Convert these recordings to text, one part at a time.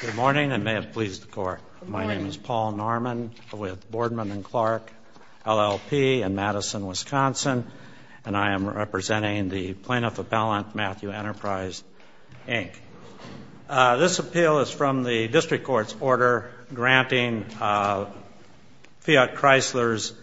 Good morning and may it please the court. My name is Paul Norman with Boardman and Clark LLP in Madison, Wisconsin, and I am representing the plaintiff appellant, Matthew Enterprise, Inc. This appeal is from the district court's order granting Fiat Chrysler's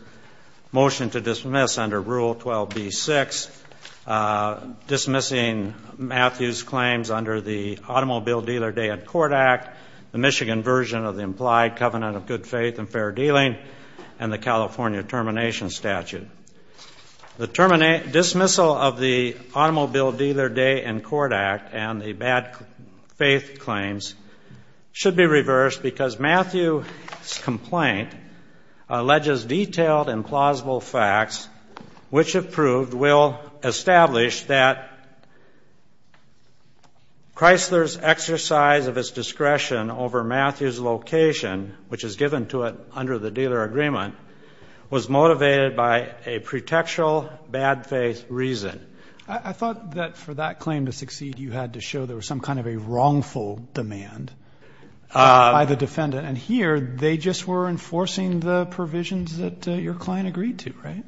motion to dismiss under Rule 12b-6, dismissing Matthew's claims under the Automobile Dealer Day and Court Act, the Michigan version of the implied covenant of good faith and fair dealing, and the California termination statute. The dismissal of the Automobile Dealer Day and Court Act and the bad faith claims should be reversed because Matthew's complaint alleges detailed and plausible facts which have proved will establish that Chrysler's exercise of its discretion over Matthew's location, which is given to it under the dealer agreement, was motivated by a pretextual bad faith reason. I thought that for that claim to succeed you had to show there was some kind of a wrongful demand by the defendant. And here they just were enforcing the provisions that your client agreed to, right?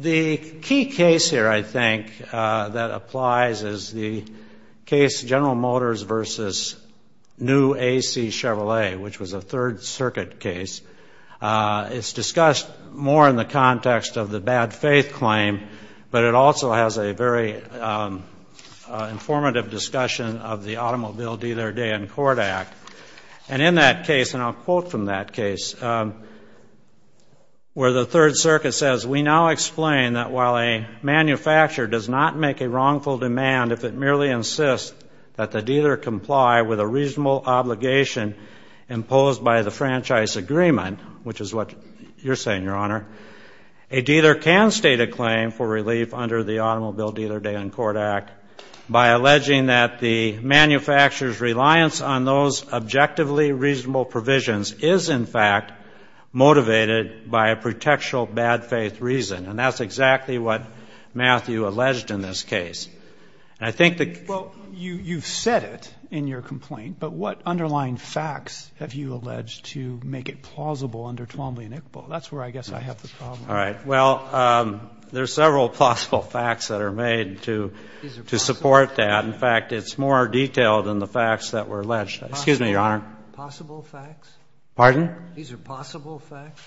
The key case here, I think, that applies is the case General Motors v. New A.C. Chevrolet, which was a Third Circuit case. It's discussed more in the context of the bad faith claim, but it also has a very informative discussion of the Automobile Dealer Day and Court Act. And in that case, and I'll quote from that case, where the Third Circuit says, that while a manufacturer does not make a wrongful demand if it merely insists that the dealer comply with a reasonable obligation imposed by the franchise agreement, which is what you're saying, Your Honor, a dealer can state a claim for relief under the Automobile Dealer Day and Court Act by alleging that the manufacturer's reliance on those objectively reasonable provisions is, in fact, motivated by a pretextual bad faith reason. And that's exactly what Matthew alleged in this case. And I think that — Well, you've said it in your complaint, but what underlying facts have you alleged to make it plausible under Twombly and Iqbal? That's where I guess I have the problem. All right. Well, there are several plausible facts that are made to support that. In fact, it's more detailed than the facts that were alleged. Excuse me, Your Honor. Possible facts? Pardon? These are possible facts?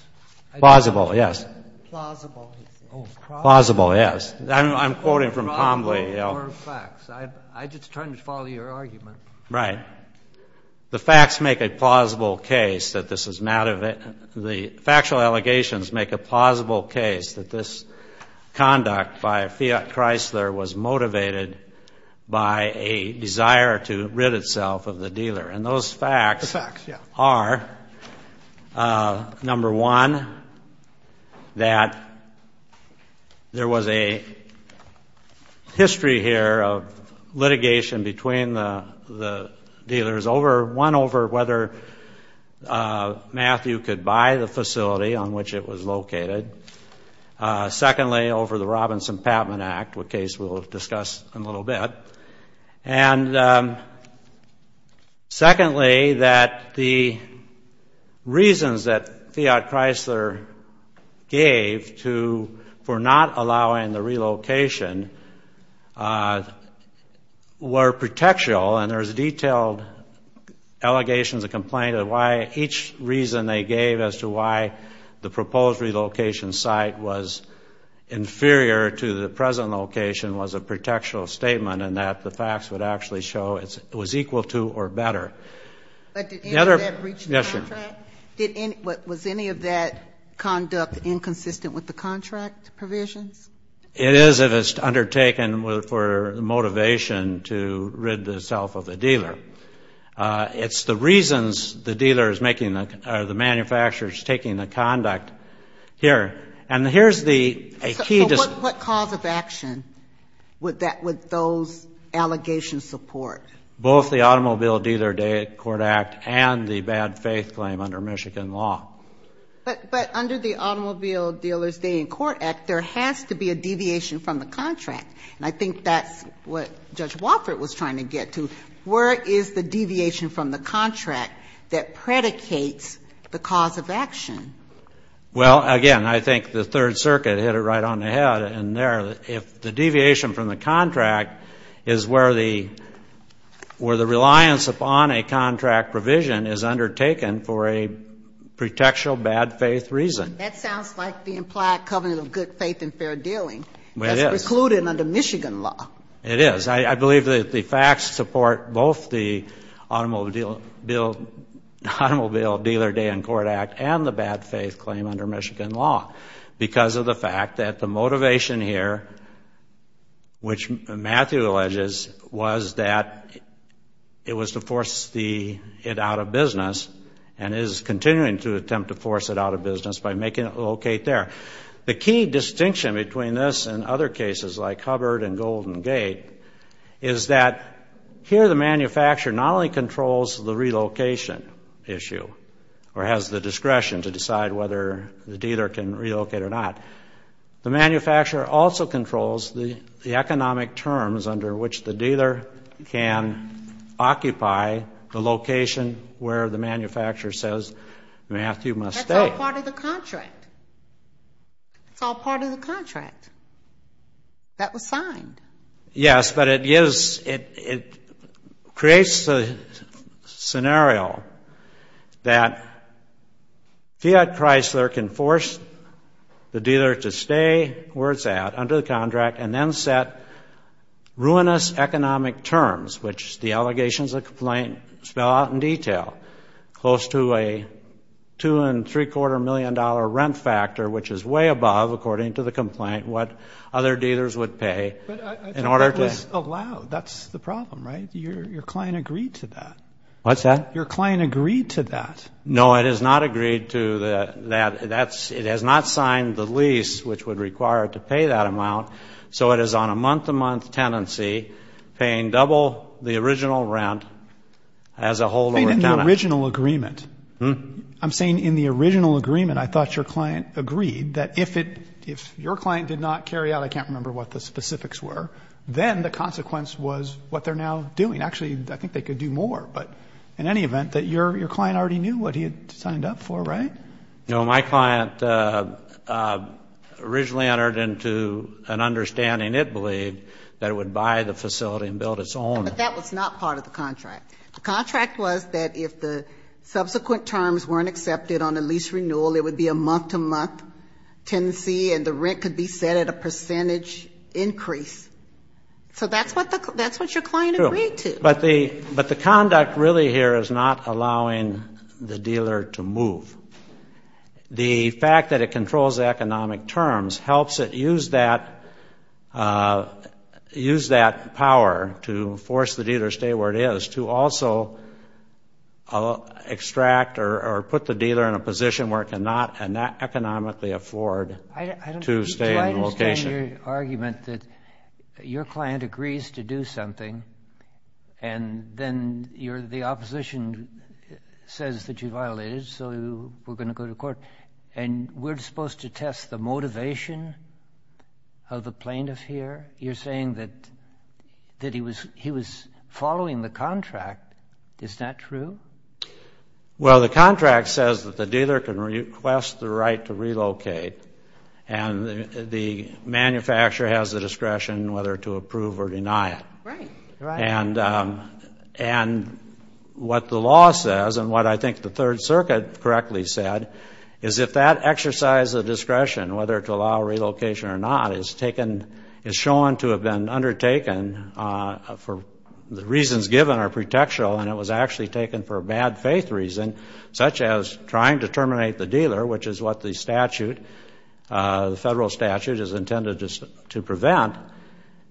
Plausible, yes. Plausible. Oh, plausible. Plausible, yes. I'm quoting from Twombly. I'm just trying to follow your argument. Right. The facts make a plausible case that this is — the factual allegations make a plausible case that this conduct by a Fiat Chrysler was motivated by a desire to rid itself of the dealer. And those facts are, number one, that there was a history here of litigation between the dealers, one, over whether Matthew could buy the facility on which it was located, secondly, over the Robinson-Patman Act, a case we'll discuss in a little bit, and secondly, that the reasons that Fiat Chrysler gave for not allowing the relocation were protectional, and there's detailed allegations of complaint of why each reason they gave as to why the proposed relocation site was inferior to the present location was a protectional statement in that the facts would actually show it was equal to or better. But did any of that reach the contract? Yes, Your Honor. Was any of that conduct inconsistent with the contract provisions? It is if it's undertaken for motivation to rid itself of the dealer. It's the reasons the dealer is making the — or the manufacturer is taking the conduct here. And here's the key — So what cause of action would those allegations support? Both the Automobile Dealers' Day in Court Act and the bad faith claim under Michigan law. But under the Automobile Dealers' Day in Court Act, there has to be a deviation from the contract, and I think that's what Judge Wofford was trying to get to. Where is the deviation from the contract that predicates the cause of action? Well, again, I think the Third Circuit hit it right on the head in there. If the deviation from the contract is where the reliance upon a contract provision is undertaken for a protectional bad faith reason. That sounds like the implied covenant of good faith and fair dealing. It is. That's precluded under Michigan law. It is. I believe that the facts support both the Automobile Dealers' Day in Court Act and the bad faith claim under Michigan law because of the fact that the motivation here, which Matthew alleges, was that it was to force it out of business and is continuing to attempt to force it out of business by making it locate there. The key distinction between this and other cases, like Hubbard and Golden Gate, is that here the manufacturer not only controls the relocation issue or has the discretion to decide whether the dealer can relocate or not, the manufacturer also controls the economic terms under which the dealer can occupy the location where the manufacturer says Matthew must stay. It's all part of the contract. It's all part of the contract that was signed. Yes, but it creates the scenario that Fiat Chrysler can force the dealer to stay where it's at under the contract and then set ruinous economic terms, which the allegations of complaint spell out in detail, close to a two and three quarter million dollar rent factor, which is way above, according to the complaint, what other dealers would pay in order to. But that was allowed. That's the problem, right? Your client agreed to that. What's that? Your client agreed to that. No, it has not agreed to that. It has not signed the lease, which would require it to pay that amount. So it is on a month-to-month tenancy, paying double the original rent as a holdover tenant. In the original agreement. I'm saying in the original agreement, I thought your client agreed that if your client did not carry out, I can't remember what the specifics were, then the consequence was what they're now doing. Actually, I think they could do more. But in any event, your client already knew what he had signed up for, right? No, my client originally entered into an understanding, it believed, that it would buy the facility and build its own. But that was not part of the contract. The contract was that if the subsequent terms weren't accepted on a lease renewal, it would be a month-to-month tenancy and the rent could be set at a percentage increase. So that's what your client agreed to. But the conduct really here is not allowing the dealer to move. The fact that it controls the economic terms helps it use that power to force the dealer to stay where it is, to also extract or put the dealer in a position where it cannot economically afford to stay in the location. I understand your argument that your client agrees to do something and then the opposition says that you violated, so we're going to go to court, and we're supposed to test the motivation of the plaintiff here? You're saying that he was following the contract. Is that true? Well, the contract says that the dealer can request the right to relocate and the manufacturer has the discretion whether to approve or deny it. Right. And what the law says, and what I think the Third Circuit correctly said, is if that exercise of discretion, whether to allow relocation or not, is shown to have been undertaken for the reasons given are pretextual and it was actually taken for a bad faith reason, such as trying to terminate the dealer, which is what the statute, the federal statute, is intended to prevent,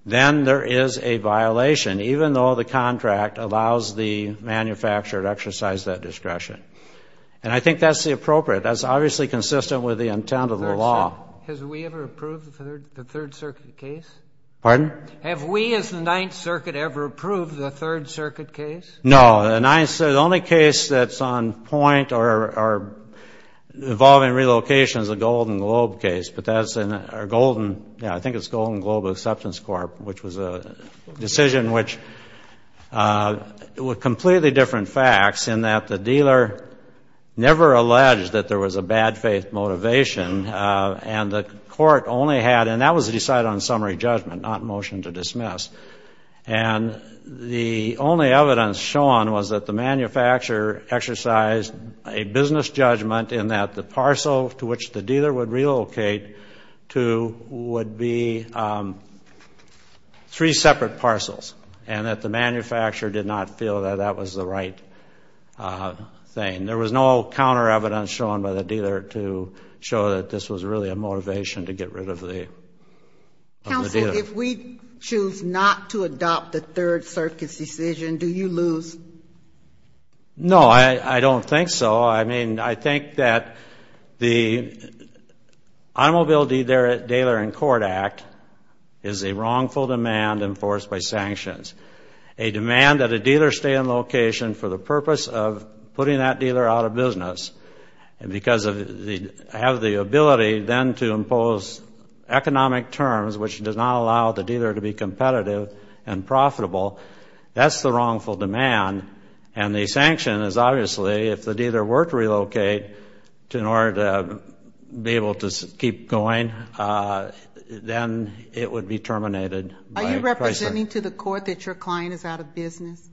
then there is a violation, even though the contract allows the manufacturer to exercise that discretion. And I think that's the appropriate, that's obviously consistent with the intent of the law. Has we ever approved the Third Circuit case? Pardon? Have we as the Ninth Circuit ever approved the Third Circuit case? No. The only case that's on point or involving relocation is the Golden Globe case, but that's in our Golden, yeah, I think it's Golden Globe Acceptance Court, which was a decision which, with completely different facts, in that the dealer never alleged that there was a bad faith motivation and the court only had, and that was decided on summary judgment, not motion to dismiss. And the only evidence shown was that the manufacturer exercised a business judgment in that the parcel to which the dealer would relocate to would be three separate parcels and that the manufacturer did not feel that that was the right thing. There was no counter evidence shown by the dealer to show that this was really a motivation to get rid of the dealer. Counsel, if we choose not to adopt the Third Circuit's decision, do you lose? No, I don't think so. I mean, I think that the Automobile Dealer in Court Act is a wrongful demand enforced by sanctions, a demand that a dealer stay in location for the purpose of putting that dealer out of business because they have the ability then to impose economic terms, which does not allow the dealer to be competitive and profitable. That's the wrongful demand, and the sanction is obviously, if the dealer were to relocate in order to be able to keep going, then it would be terminated. Are you representing to the court that your client is out of business?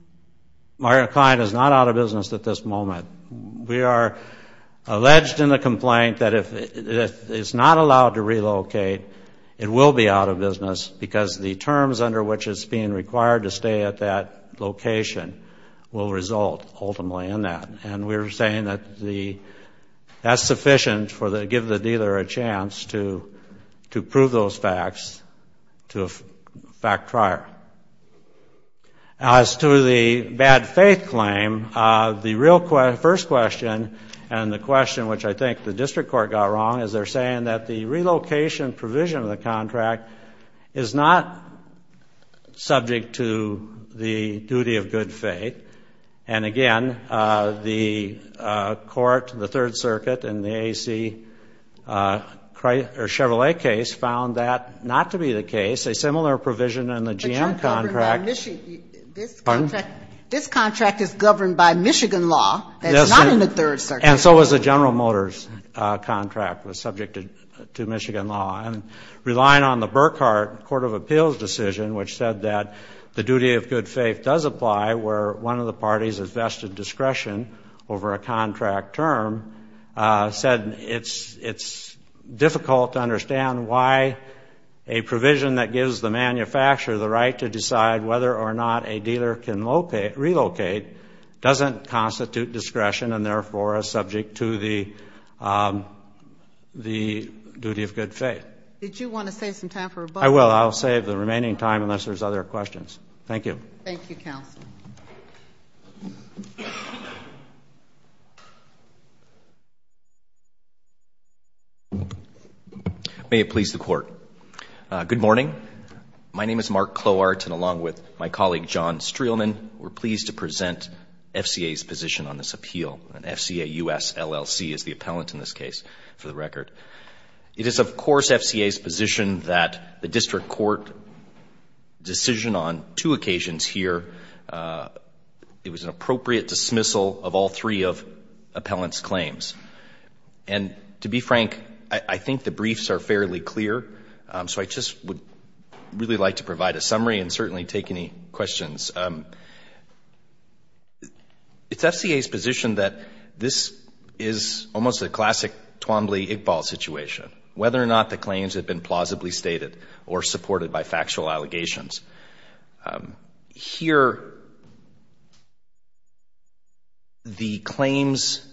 My client is not out of business at this moment. We are alleged in the complaint that if it's not allowed to relocate, it will be out of business because the terms under which it's being required to stay at that location will result ultimately in that. And we're saying that that's sufficient to give the dealer a chance to prove those facts to a fact trier. As to the bad faith claim, the first question and the question which I think the district court got wrong is they're saying that the relocation provision of the contract is not subject to the duty of good faith. And again, the court, the Third Circuit in the Chevrolet case found that not to be the case. It's a similar provision in the GM contract. This contract is governed by Michigan law. It's not in the Third Circuit. And so is the General Motors contract was subject to Michigan law. And relying on the Burkhart Court of Appeals decision, which said that the duty of good faith does apply, where one of the parties has vested discretion over a contract term, said it's difficult to understand why a provision that gives the manufacturer the right to decide whether or not a dealer can relocate doesn't constitute discretion and therefore is subject to the duty of good faith. Did you want to save some time for rebuttal? I will. I'll save the remaining time unless there's other questions. Thank you. Thank you, Counsel. May it please the Court. Good morning. My name is Mark Clowart, and along with my colleague John Streelman, we're pleased to present FCA's position on this appeal. And FCA US LLC is the appellant in this case, for the record. It is, of course, FCA's position that the district court decision on two occasions here, it was an appropriate dismissal of all three of appellant's claims. And to be frank, I think the briefs are fairly clear, so I just would really like to provide a summary and certainly take any questions. It's FCA's position that this is almost a classic Twombly-Iqbal situation, whether or not the claims have been plausibly stated or supported by factual allegations. Here the claims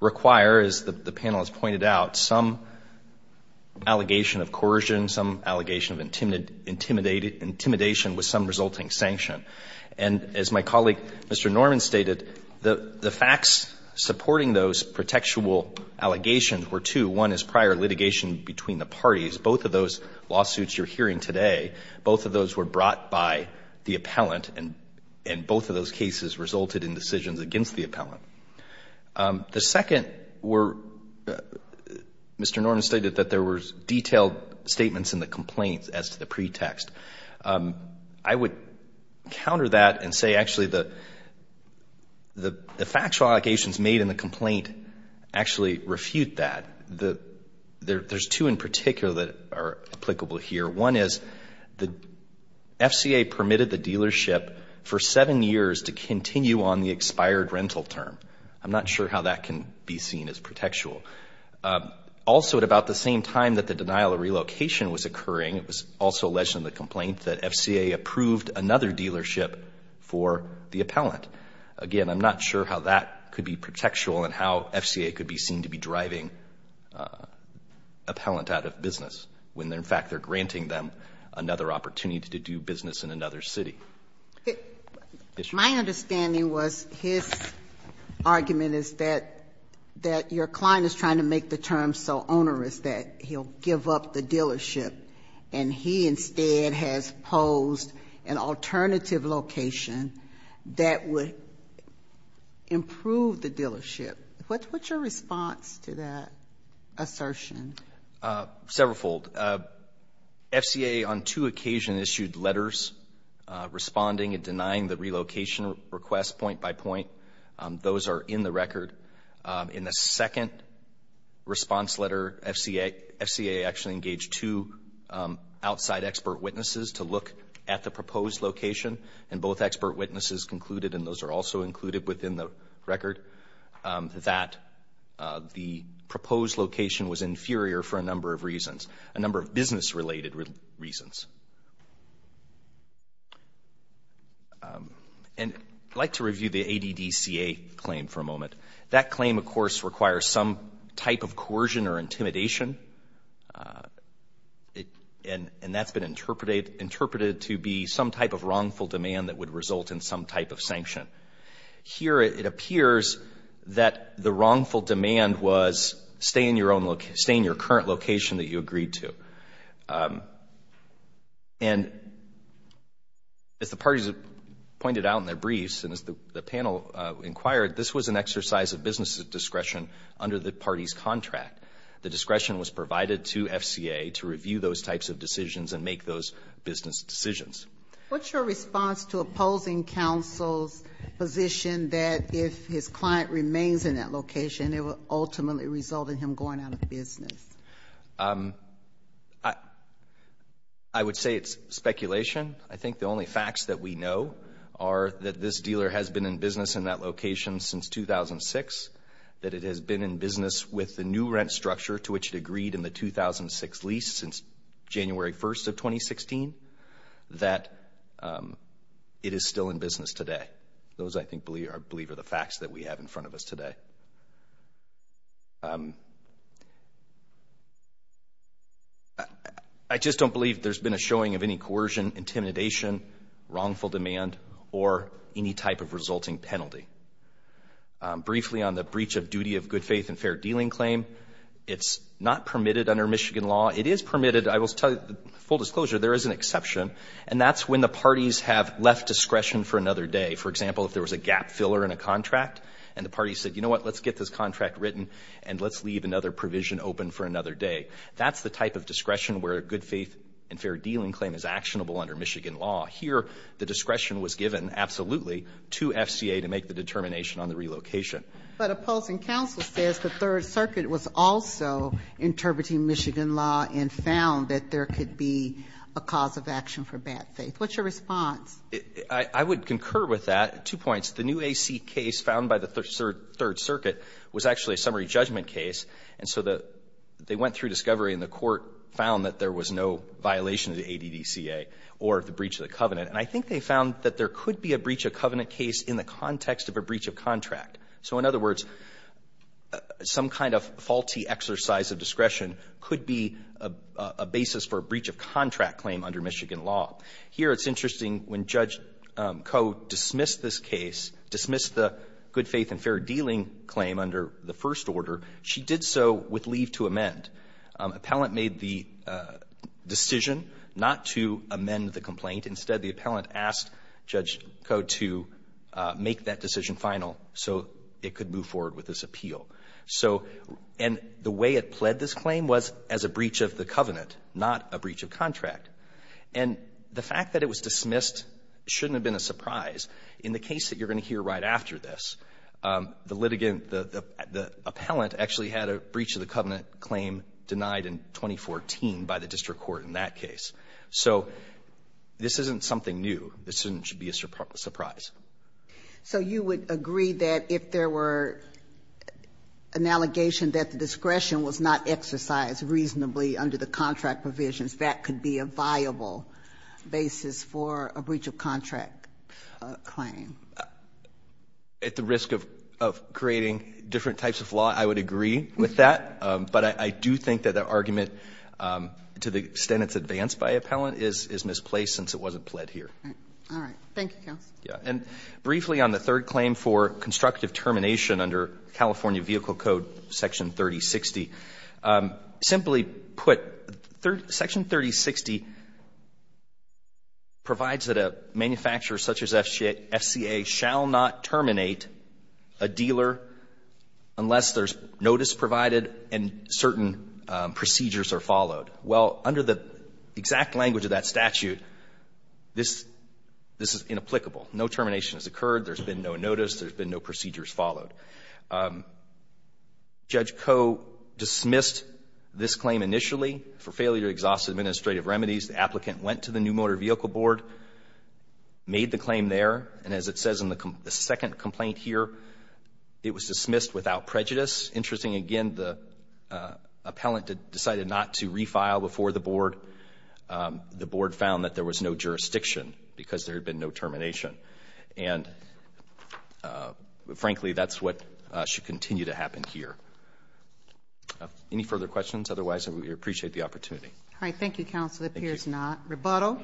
require, as the panel has pointed out, some allegation of coercion, some allegation of intimidation with some resulting sanction. And as my colleague Mr. Norman stated, the facts supporting those protectual allegations were two. One is prior litigation between the parties. Both of those lawsuits you're hearing today, both of those were brought by the appellant and both of those cases resulted in decisions against the appellant. The second were, Mr. Norman stated that there were detailed statements in the complaints as to the pretext. I would counter that and say actually the factual allegations made in the complaint actually refute that. There's two in particular that are applicable here. One is the FCA permitted the dealership for seven years to continue on the expired rental term. I'm not sure how that can be seen as protectual. Also at about the same time that the denial of relocation was occurring, it was also alleged in the complaint that FCA approved another dealership for the appellant. Again, I'm not sure how that could be protectual and how FCA could be seen to be driving appellant out of business when in fact they're granting them another opportunity to do business in another city. My understanding was his argument is that your client is trying to make the term so and he instead has posed an alternative location that would improve the dealership. What's your response to that assertion? Several fold. FCA on two occasions issued letters responding and denying the relocation request Those are in the record. In the second response letter, FCA actually engaged two outside expert witnesses to look at the proposed location and both expert witnesses concluded, and those are also included within the record, that the proposed location was inferior for a number of reasons, a number of business-related reasons. And I'd like to review the ADDCA claim for a moment. That claim, of course, requires some type of coercion or intimidation, and that's been interpreted to be some type of wrongful demand that would result in some type of sanction. Here it appears that the wrongful demand was stay in your current location that you agreed to. And as the parties have pointed out in their briefs and as the panel inquired, this was an exercise of business discretion under the party's contract. The discretion was provided to FCA to review those types of decisions and make those business decisions. What's your response to opposing counsel's position that if his client remains in that location, it will ultimately result in him going out of business? I would say it's speculation. I think the only facts that we know are that this dealer has been in business in that location since 2006, that it has been in business with the new rent structure to which it agreed in the 2006 lease since January 1st of 2016, that it is still in business today. Those, I believe, are the facts that we have in front of us today. I just don't believe there's been a showing of any coercion, intimidation, wrongful demand, or any type of resulting penalty. Briefly, on the breach of duty of good faith and fair dealing claim, it's not permitted under Michigan law. It is permitted. I will tell you, full disclosure, there is an exception, and that's when the parties have left discretion for another day. For example, if there was a gap filler in a contract and the party said, you know what, let's get this contract written and let's leave another provision open for another day. That's the type of discretion where a good faith and fair dealing claim is actionable under Michigan law. Here, the discretion was given absolutely to FCA to make the determination on the relocation. But opposing counsel says the Third Circuit was also interpreting Michigan law and found that there could be a cause of action for bad faith. What's your response? I would concur with that. Two points. The new AC case found by the Third Circuit was actually a summary judgment case. And so they went through discovery and the court found that there was no violation of the ADDCA or the breach of the covenant. And I think they found that there could be a breach of covenant case in the context of a breach of contract. So, in other words, some kind of faulty exercise of discretion could be a basis for a breach of contract claim under Michigan law. Here, it's interesting, when Judge Koh dismissed this case, dismissed the good faith and fair dealing claim under the first order, she did so with leave to amend. Appellant made the decision not to amend the complaint. Instead, the appellant asked Judge Koh to make that decision final. So it could move forward with this appeal. So, and the way it pled this claim was as a breach of the covenant, not a breach of contract. And the fact that it was dismissed shouldn't have been a surprise. In the case that you're going to hear right after this, the litigant, the appellant actually had a breach of the covenant claim denied in 2014 by the district court in that case. So this isn't something new. This shouldn't be a surprise. So you would agree that if there were an allegation that the discretion was not exercised reasonably under the contract provisions, that could be a viable basis for a breach of contract claim? At the risk of creating different types of law, I would agree with that. But I do think that that argument, to the extent it's advanced by appellant, is misplaced since it wasn't pled here. All right. Thank you, counsel. Yeah. And briefly on the third claim for constructive termination under California Vehicle Code Section 3060, simply put, Section 3060 provides that a manufacturer such as FCA shall not terminate a dealer unless there's notice provided and certain procedures are followed. Well, under the exact language of that statute, this is inapplicable. No termination has occurred. There's been no notice. There's been no procedures followed. Judge Koh dismissed this claim initially for failure to exhaust administrative remedies. The applicant went to the New Motor Vehicle Board, made the claim there, and as it says in the second complaint here, it was dismissed without prejudice. It's interesting, again, the appellant decided not to refile before the board. The board found that there was no jurisdiction because there had been no termination. And frankly, that's what should continue to happen here. Any further questions? Otherwise, we appreciate the opportunity. All right. Thank you, counsel. It appears not. Rebuttal.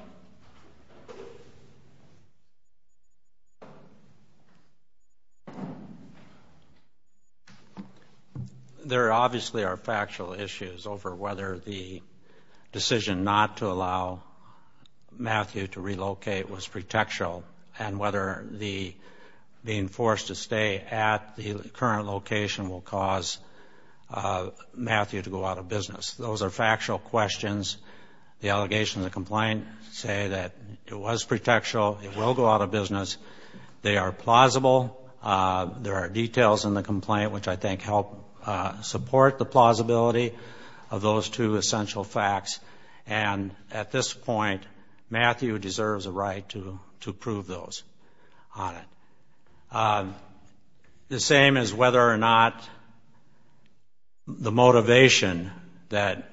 There obviously are factual issues over whether the decision not to allow Matthew to relocate was pretextual and whether being forced to stay at the current location will cause Matthew to go out of business. Those are factual questions. The allegations of the complaint say that it was pretextual. It will go out of business. They are plausible. There are details in the complaint which I think help support the plausibility of those two essential facts. And at this point, Matthew deserves a right to prove those on it. The same as whether or not the motivation that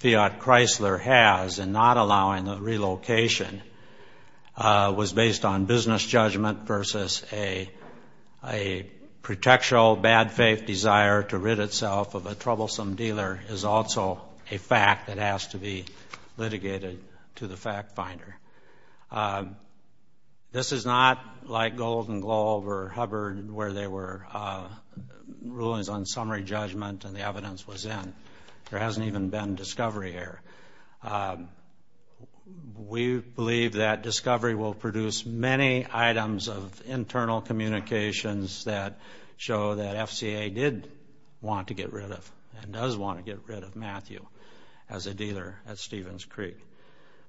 Fiat Chrysler has in not allowing the was based on business judgment versus a pretextual bad faith desire to rid itself of a troublesome dealer is also a fact that has to be litigated to the fact finder. This is not like Golden Globe or Hubbard where there were rulings on summary judgment and the evidence was in. There hasn't even been discovery here. We believe that discovery will produce many items of internal communications that show that FCA did want to get rid of and does want to get rid of Matthew as a dealer at Stevens Creek.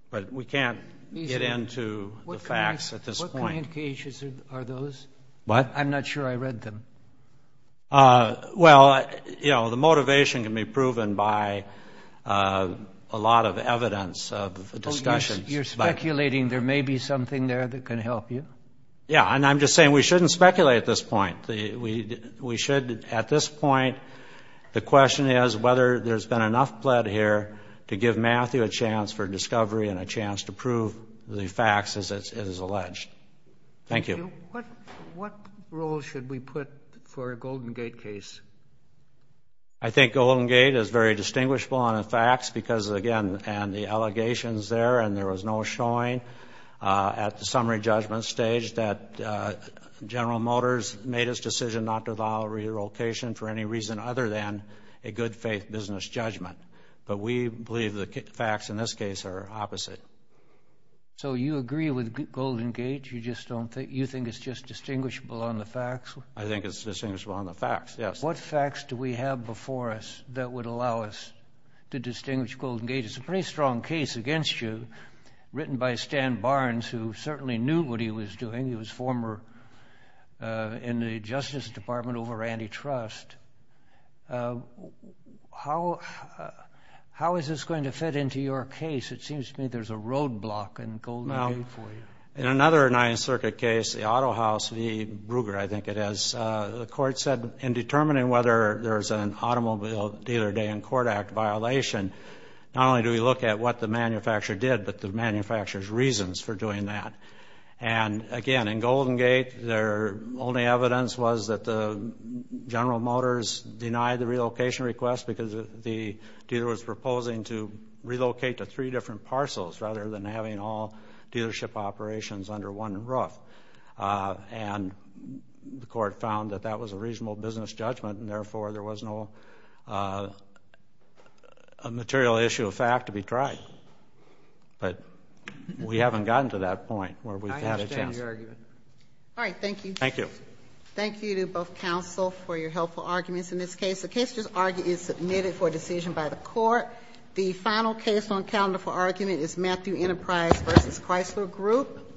But we can't get into the facts at this point. What communications are those? What? I'm not sure I read them. Well, you know, the motivation can be proven by a lot of evidence of discussion. You're speculating there may be something there that can help you. Yeah. And I'm just saying we shouldn't speculate at this point. We should at this point. The question is whether there's been enough blood here to give Matthew a chance for discovery and a chance to prove the facts as it is alleged. Thank you. What role should we put for a Golden Gate case? I think Golden Gate is very distinguishable on the facts because, again, and the allegations there and there was no showing at the summary judgment stage that General Motors made its decision not to allow relocation for any reason other than a good faith business judgment. But we believe the facts in this case are opposite. So you agree with Golden Gate? You think it's just distinguishable on the facts? I think it's distinguishable on the facts, yes. What facts do we have before us that would allow us to distinguish Golden Gate? It's a pretty strong case against you, written by Stan Barnes, who certainly knew what he was doing. He was former in the Justice Department over antitrust. How is this going to fit into your case? It seems to me there's a roadblock in Golden Gate for you. In another Ninth Circuit case, the Auto House v. Brugger, I think it is, the court said in determining whether there's an automobile dealer day in court act violation, not only do we look at what the manufacturer did, but the manufacturer's reasons for doing that. And, again, in Golden Gate, their only evidence was that General Motors denied the relocation request because the dealer was proposing to relocate to three different parcels rather than having all dealership operations under one roof. And the court found that that was a reasonable business judgment and, therefore, there was no material issue of fact to be tried. But we haven't gotten to that point where we've had a chance. I understand your argument. All right. Thank you. Thank you. Thank you to both counsel for your helpful arguments in this case. The case is submitted for decision by the court. The final case on calendar for argument is Matthew Enterprise v. Chrysler Group.